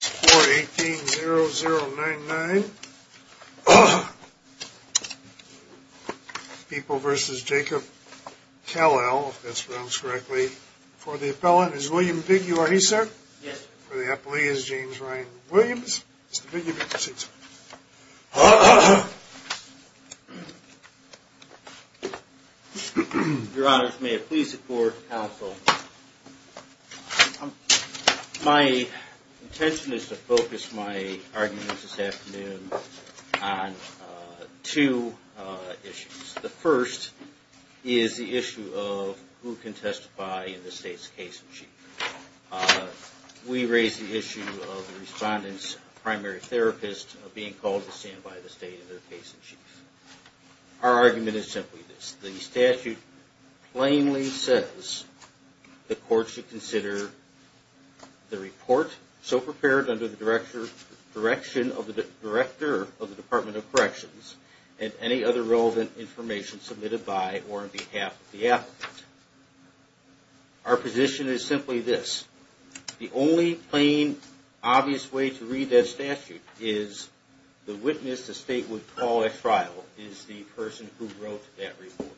For the appellant is William Bigg you are he sir? Yes. For the appellee is James Ryan Williams. Mr. Bigg you may proceed sir. Your honors may I please support the counsel. My intention is to focus my arguments this afternoon on two issues. The first is the issue of who can testify in the state's case in chief. We raise the issue of the respondent's primary therapist being called to stand by the state in their case in chief. Our argument is simply this. The statute plainly says the court should consider the report so prepared under the direction of the director of the Department of Corrections and any other relevant information submitted by or on behalf of the applicant. Our position is simply this. The only plain obvious way to read that statute is the witness the state would call at trial is the person who wrote that report.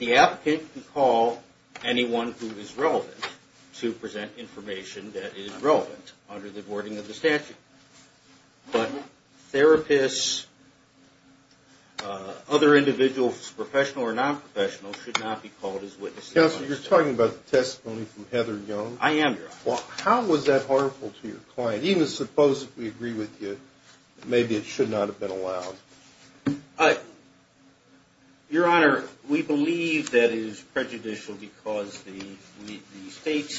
The applicant can call anyone who is relevant to present information that is relevant under the wording of the statute. But therapists other individuals professional or non-professional should not be called as witnesses. Counselor you're talking about the testimony from Heather Young. I am your honor. How was that harmful to your client even suppose if we agree with you maybe it should not have been allowed. Your honor we believe that it is prejudicial because the state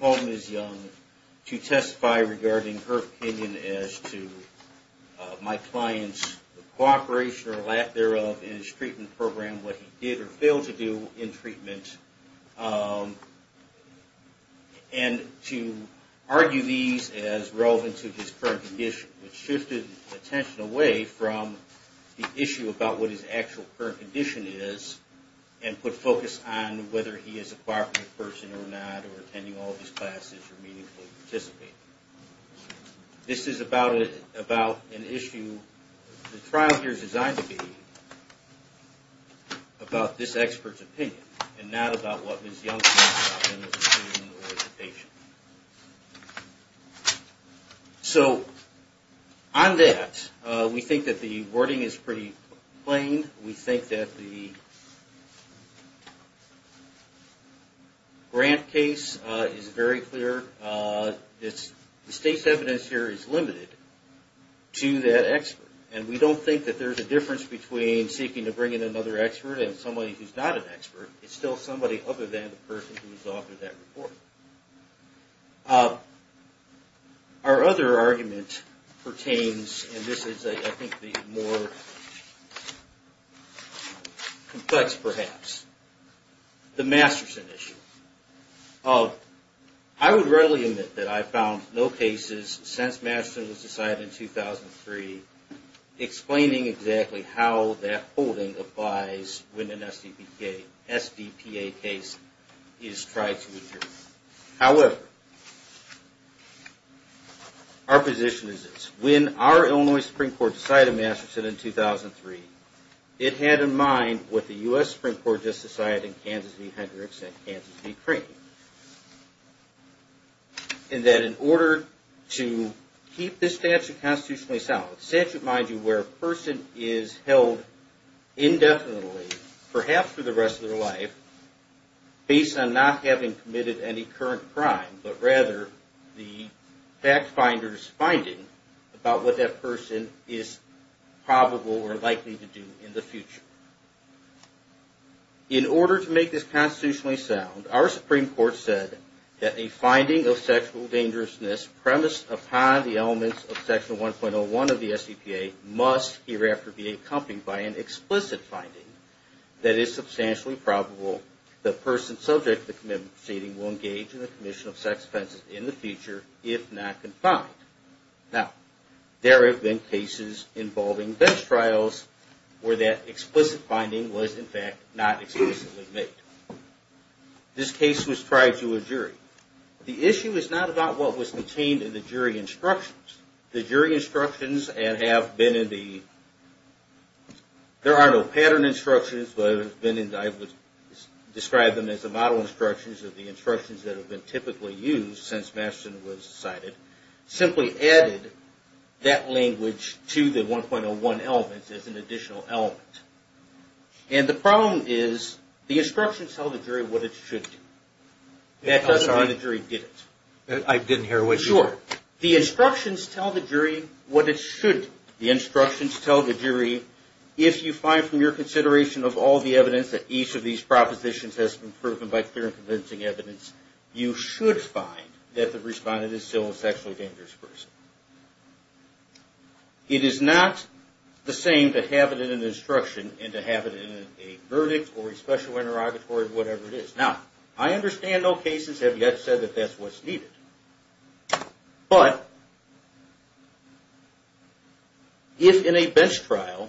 called Ms. Young to testify regarding her opinion as to my client's cooperation or lack thereof in his treatment program what he did or failed to do in treatment and to argue these as relevant to his current condition. It shifted attention away from the issue about what his actual current condition is and put focus on whether he is a partner person or not or attending all of his classes or meaningfully participating. This is about an issue the trial here is designed to be about this expert's opinion and not about what Ms. Young said about him as a patient. So on that we think that the wording is pretty plain. We think that the grant case is very clear. The state's evidence here is limited to that expert and we don't think that there is a difference between seeking to bring in another expert and somebody who is not an expert. It is still somebody other than the person who has authored that report. Our other argument pertains and this is I think the more complex perhaps. The Masterson issue. I would readily admit that I found no cases since Masterson was decided in 2003 explaining exactly how that holding applies when an SDPA case is tried to adjourn. However, our position is this. When our Illinois Supreme Court decided on Masterson in 2003, it had in mind what the U.S. Supreme Court just decided in Kansas v. Hendricks and Kansas v. Crane. And that in order to keep this statute constitutionally sound. Statute mind you where a person is held indefinitely perhaps for the rest of their life based on not having committed any current crime but rather the fact finder's finding about what that person is probable or likely to do in the future. In order to make this constitutionally sound, our Supreme Court said that a finding of sexual dangerousness premised upon the elements of Section 1.01 of the SDPA must hereafter be accompanied by an explicit finding that is substantially probable the person subject to the commitment proceeding will engage in the commission of sex offenses in the future if not confined. Now, there have been cases involving bench trials where that explicit finding was in fact not explicitly made. This case was tried to a jury. The issue is not about what was contained in the jury instructions. The jury instructions have been in the, there are no pattern instructions but I would describe them as the model instructions of the instructions that have been typically used since Masterson was decided. Simply added that language to the 1.01 elements as an additional element. And the problem is the instructions tell the jury what it should do. The instructions tell the jury what it should. The instructions tell the jury if you find from your consideration of all the evidence that each of these propositions has been proven by clear and convincing evidence, you should find that the respondent is still a sexually dangerous person. It is not the same to have it in an instruction and to have it in a verdict or a special interrogatory or whatever it is. Now, I understand no cases have yet said that that's what's needed. But if in a bench trial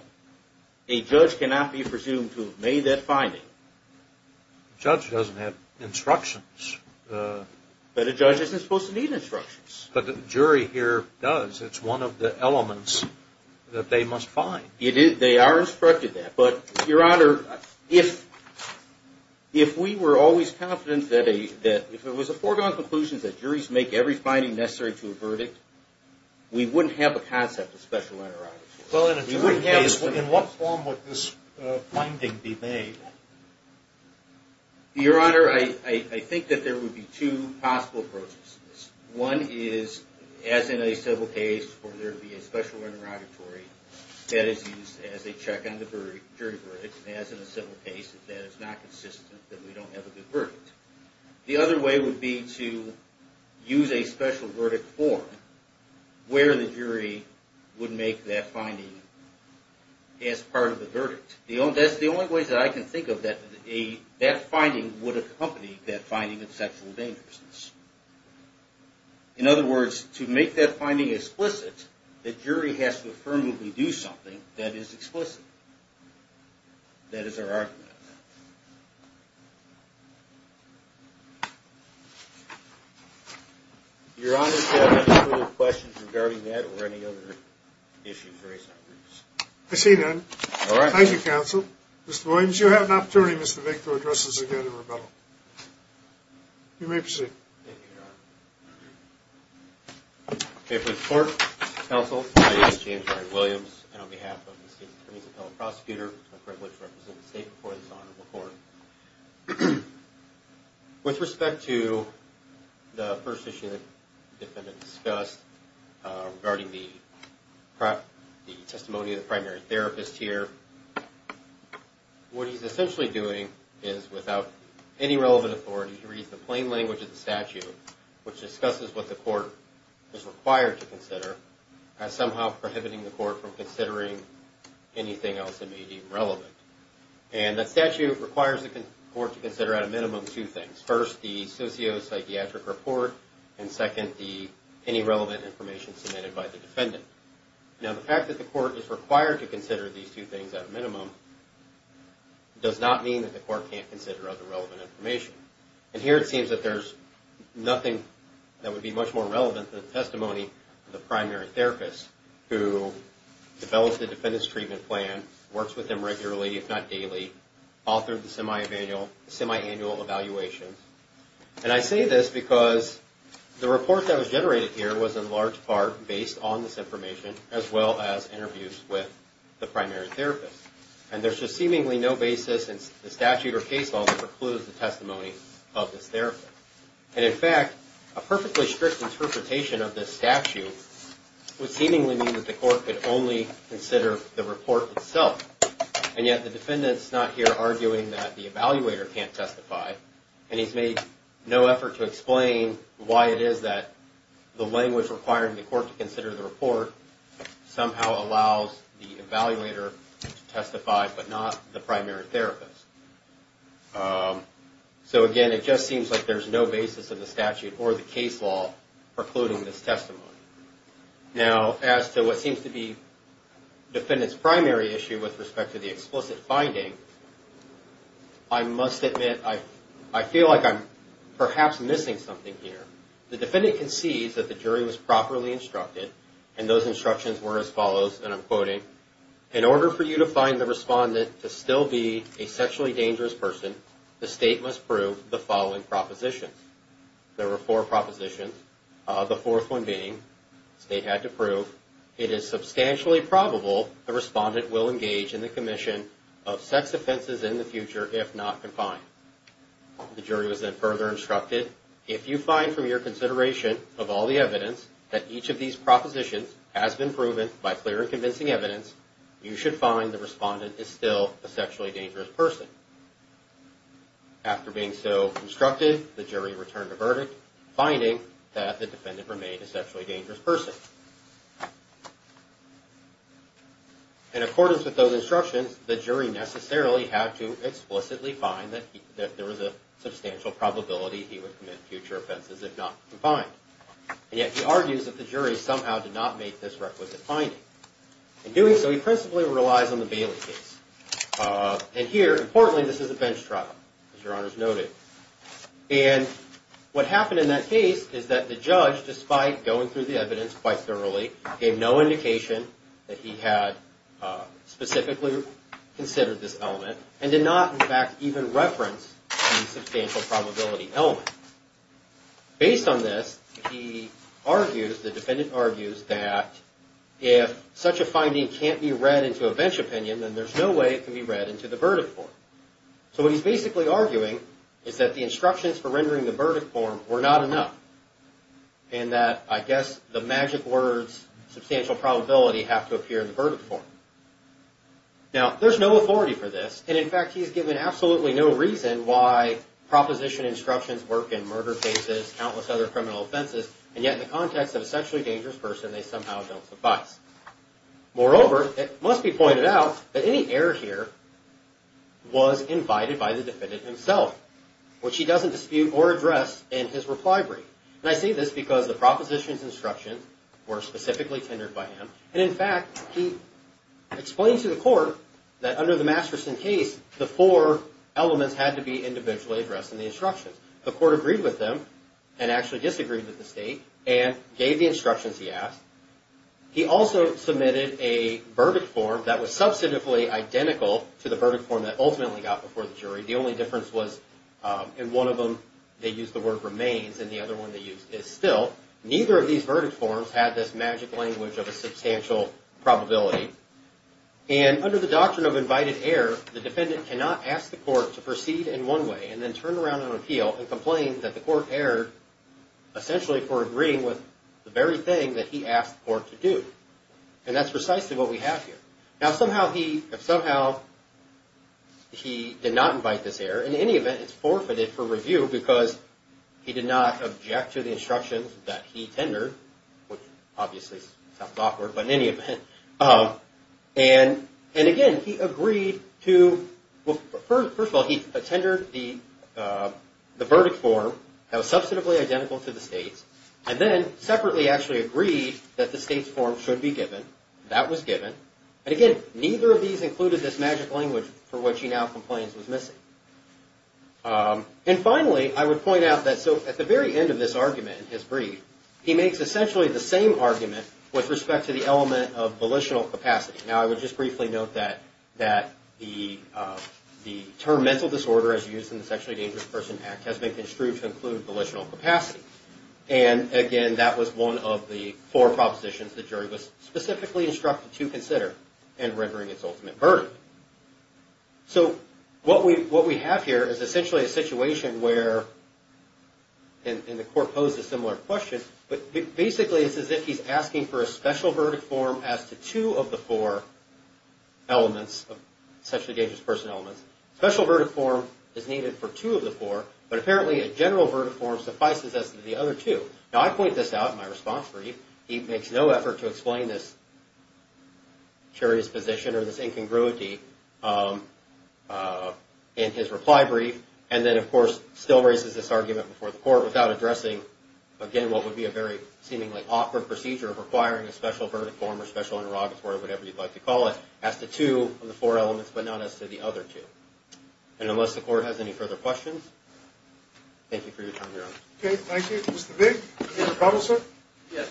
a judge cannot be presumed to have made that finding. But a judge doesn't have instructions. But a judge isn't supposed to need instructions. But the jury here does. It's one of the elements that they must find. They are instructed that. But, Your Honor, if we were always confident that if it was a foregone conclusion that juries make every finding necessary to a verdict, we wouldn't have a concept of special interrogation. Well, in a jury case, in what form would this finding be made? Your Honor, I think that there would be two possible approaches to this. One is, as in a civil case, for there to be a special interrogatory that is used as a check on the jury verdict. As in a civil case, if that is not consistent, then we don't have a good verdict. The other way would be to use a special verdict form where the jury would make that finding as part of the verdict. That's the only way that I can think of that that finding would accompany that finding of sexual dangerousness. In other words, to make that finding explicit, the jury has to affirmably do something that is explicit. That is our argument on that. Your Honor, do you have any further questions regarding that or any other issues raised? Proceed then. Thank you, Counsel. Mr. Williams, you have an opportunity, Mr. Vick, to address us again in rebuttal. You may proceed. Thank you, Your Honor. May it please the Court, Counsel, my name is James Ryan Williams, and on behalf of the State's Attorney's Appellate Prosecutor, it is my privilege to represent the State before this Honorable Court. With respect to the first issue that the defendant discussed regarding the testimony of the primary therapist here, what he's essentially doing is, without any relevant authority, he reads the plain language of the statute. Which discusses what the Court is required to consider as somehow prohibiting the Court from considering anything else that may be relevant. And the statute requires the Court to consider at a minimum two things. First, the socio-psychiatric report, and second, any relevant information submitted by the defendant. Now, the fact that the Court is required to consider these two things at a minimum does not mean that the Court can't consider other relevant information. And here it seems that there's nothing that would be much more relevant than the testimony of the primary therapist, who developed the defendant's treatment plan, works with them regularly, if not daily, authored the semiannual evaluation. And I say this because the report that was generated here was in large part based on this information, as well as interviews with the primary therapist. And there's just seemingly no basis in the statute or case law that precludes the testimony of this therapist. And in fact, a perfectly strict interpretation of this statute would seemingly mean that the Court could only consider the report itself. And yet the defendant's not here arguing that the evaluator can't testify, and he's made no effort to explain why it is that the language requiring the Court to consider the report somehow allows the evaluator to testify, but not the primary therapist. So again, it just seems like there's no basis in the statute or the case law precluding this testimony. Now, as to what seems to be the defendant's primary issue with respect to the explicit finding, I must admit, I feel like I'm perhaps missing something here. The defendant concedes that the jury was properly instructed, and those instructions were as follows, and I'm quoting, In order for you to find the respondent to still be a sexually dangerous person, the State must prove the following propositions. There were four propositions, the fourth one being, the State had to prove, It is substantially probable the respondent will engage in the commission of sex offenses in the future if not confined. The jury was then further instructed, If you find from your consideration of all the evidence that each of these propositions has been proven by clear and convincing evidence, you should find the respondent is still a sexually dangerous person. After being so instructed, the jury returned a verdict, finding that the defendant remained a sexually dangerous person. In accordance with those instructions, the jury necessarily had to explicitly find that there was a substantial probability he would commit future offenses if not confined. And yet, he argues that the jury somehow did not make this requisite finding. In doing so, he principally relies on the Bailey case. And here, importantly, this is a bench trial, as Your Honors noted. And what happened in that case is that the judge, despite going through the evidence quite thoroughly, gave no indication that he had specifically considered this element, and did not, in fact, even reference the substantial probability element. Based on this, he argues, the defendant argues, that if such a finding can't be read into a bench opinion, then there's no way it can be read into the verdict form. So what he's basically arguing is that the instructions for rendering the verdict form were not enough, and that, I guess, the magic words, substantial probability, have to appear in the verdict form. Now, there's no authority for this, and in fact, he's given absolutely no reason why proposition instructions work in murder cases, countless other criminal offenses, and yet, in the context of a sexually dangerous person, they somehow don't suffice. Moreover, it must be pointed out that any error here was invited by the defendant himself, which he doesn't dispute or address in his reply brief. And I say this because the propositions instructions were specifically tendered by him, and in fact, he explains to the court that under the Masterson case, the four elements had to be individually addressed in the instructions. The court agreed with him, and actually disagreed with the state, and gave the instructions he asked. He also submitted a verdict form that was substantively identical to the verdict form that ultimately got before the jury. The only difference was in one of them, they used the word remains, and the other one they used is still. Neither of these verdict forms had this magic language of a substantial probability. And under the doctrine of invited error, the defendant cannot ask the court to proceed in one way, and then turn around and appeal, and complain that the court erred, essentially for agreeing with the very thing that he asked the court to do. And that's precisely what we have here. Now, somehow, he did not invite this error. In any event, it's forfeited for review because he did not object to the instructions that he tendered, which obviously sounds awkward, but in any event. And again, he agreed to, first of all, he tendered the verdict form that was substantively identical to the state's, and then separately actually agreed that the state's form should be given. That was given. And again, neither of these included this magic language for which he now complains was missing. And finally, I would point out that at the very end of this argument in his brief, he makes essentially the same argument with respect to the element of volitional capacity. Now, I would just briefly note that the term mental disorder, as used in the Sexually Dangerous Person Act, has been construed to include volitional capacity. And again, that was one of the four propositions the jury was specifically instructed to consider in rendering its ultimate verdict. So, what we have here is essentially a situation where, and the court posed a similar question, but basically it's as if he's asking for a special verdict form as to two of the four elements of sexually dangerous person elements. Special verdict form is needed for two of the four, but apparently a general verdict form suffices as to the other two. Now, I point this out in my response brief. He makes no effort to explain this curious position or this incongruity in his reply brief, and then, of course, still raises this argument before the court without addressing, again, what would be a very seemingly awkward procedure of requiring a special verdict form or special interrogatory, whatever you'd like to call it, as to two of the four elements, but not as to the other two. And unless the court has any further questions, thank you for your time, Your Honor. Okay, thank you. Mr. Vick, is there a problem, sir? Yes.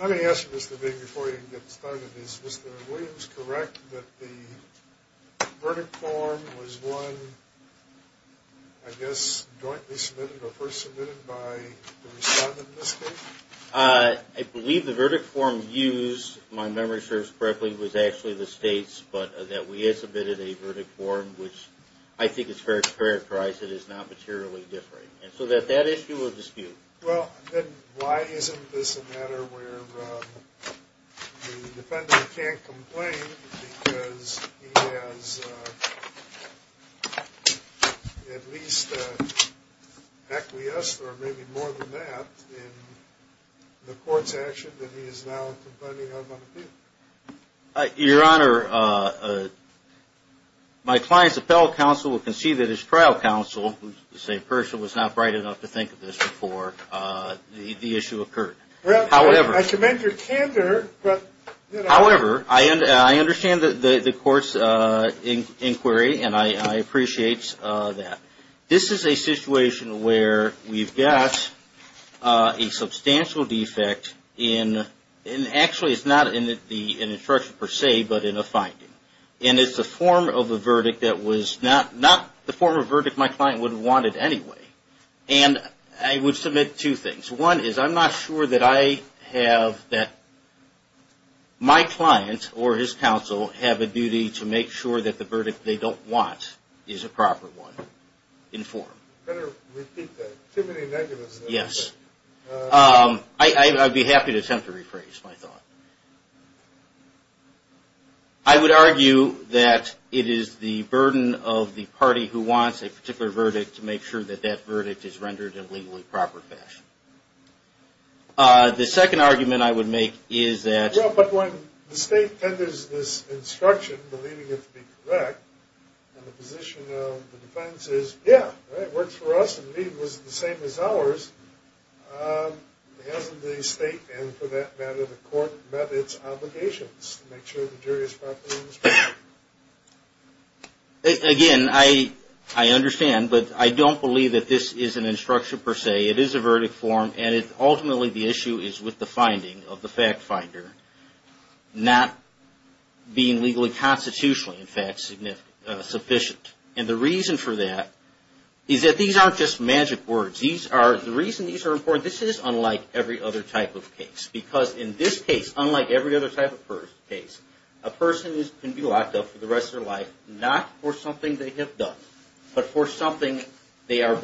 Let me ask you this, Mr. Vick, before you get started. Is Mr. Williams correct that the verdict form was one, I guess, jointly submitted or first submitted by the respondent in this case? I believe the verdict form used, if my memory serves correctly, was actually the State's, but that we had submitted a verdict form, which I think is fair to characterize it as not materially different. And so that issue will dispute. Well, then why isn't this a matter where the defendant can't complain because he has at least an acquiescence or maybe more than that in the court's action that he is now complaining of on appeal? Your Honor, my client's appellate counsel will concede that his trial counsel, who is the same person, was not bright enough to think of this before the issue occurred. Well, I commend your candor. However, I understand the court's inquiry, and I appreciate that. This is a situation where we've got a substantial defect, and actually it's not in the instruction per se, but in a finding. And it's a form of a verdict that was not the form of verdict my client would have wanted anyway. And I would submit two things. One is I'm not sure that I have that my client or his counsel have a duty to make sure that the verdict they don't want is a proper one in form. You better repeat that. Too many negatives there. Yes. I'd be happy to attempt to rephrase my thought. I would argue that it is the burden of the party who wants a particular verdict to make sure that that verdict is rendered in a legally proper fashion. The second argument I would make is that... Well, but when the state tenders this instruction, believing it to be correct, and the position of the defense is, yeah, it works for us and the deed was the same as ours, hasn't the state, and for that matter the court, met its obligations to make sure the jury is properly instructed? Again, I understand, but I don't believe that this is an instruction per se. It is a verdict form, and ultimately the issue is with the finding of the fact finder not being legally constitutionally, in fact, sufficient. And the reason for that is that these aren't just magic words. The reason these are important, this is unlike every other type of case. Because in this case, unlike every other type of case, a person can be locked up for the rest of their life not for something they have done, but for something it's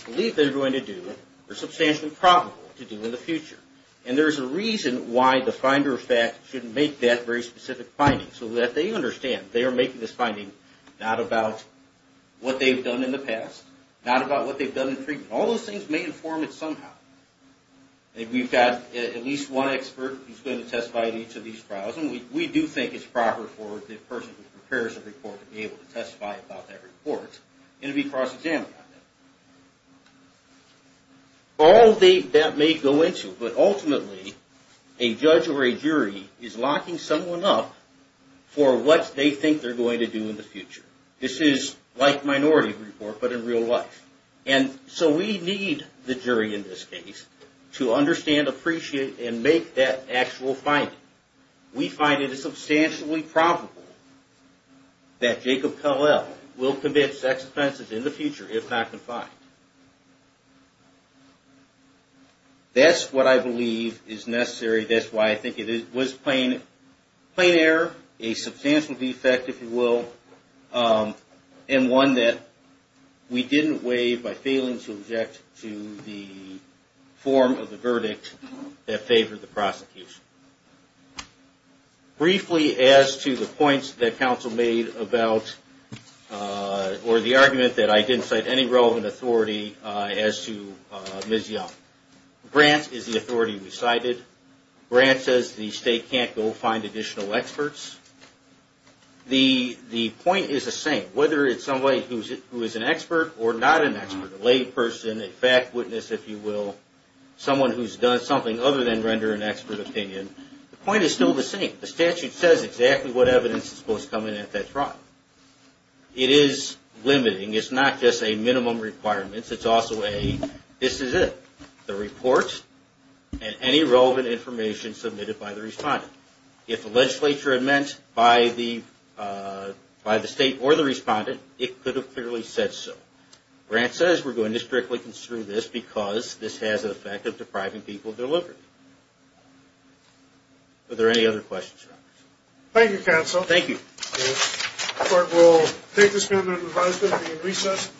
believed they're going to do or substantially probable to do in the future. And there's a reason why the finder of fact shouldn't make that very specific finding. So that they understand they are making this finding not about what they've done in the past, not about what they've done in treatment. All those things may inform it somehow. We've got at least one expert who's going to testify at each of these trials, and we do think it's proper for the person who prepares the report to be able to testify about that report, and to be cross-examined on that. All that may go into, but ultimately, a judge or a jury is locking someone up for what they think they're going to do in the future. This is like minority report, but in real life. And so we need the jury in this case to understand, appreciate, and make that actual finding. We find it substantially probable that Jacob Kellel will commit sex offenses in the future, if not confined. That's what I believe is necessary. That's why I think it was plain error, a substantial defect, if you will, and one that we didn't waive by failing to object to the form of the verdict that favored the prosecution. Briefly, as to the points that counsel made about, or the argument that I didn't cite any relevant authority as to Ms. Young. Grant is the authority we cited. Grant says the state can't go find additional experts. The point is the same. Whether it's somebody who is an expert or not an expert. A layperson, a fact witness, if you will. Someone who's done something other than render an expert opinion. The point is still the same. The statute says exactly what evidence is supposed to come in at that trial. It is limiting. It's not just a minimum requirement. It's also a, this is it. The report, and any relevant information submitted by the respondent. If the legislature had meant by the state or the respondent, it could have clearly said so. Grant says we're going to strictly construe this because this has the effect of depriving people of their liberty. Are there any other questions? Thank you, counsel. Thank you. We'll take this amendment and revise it at the recess.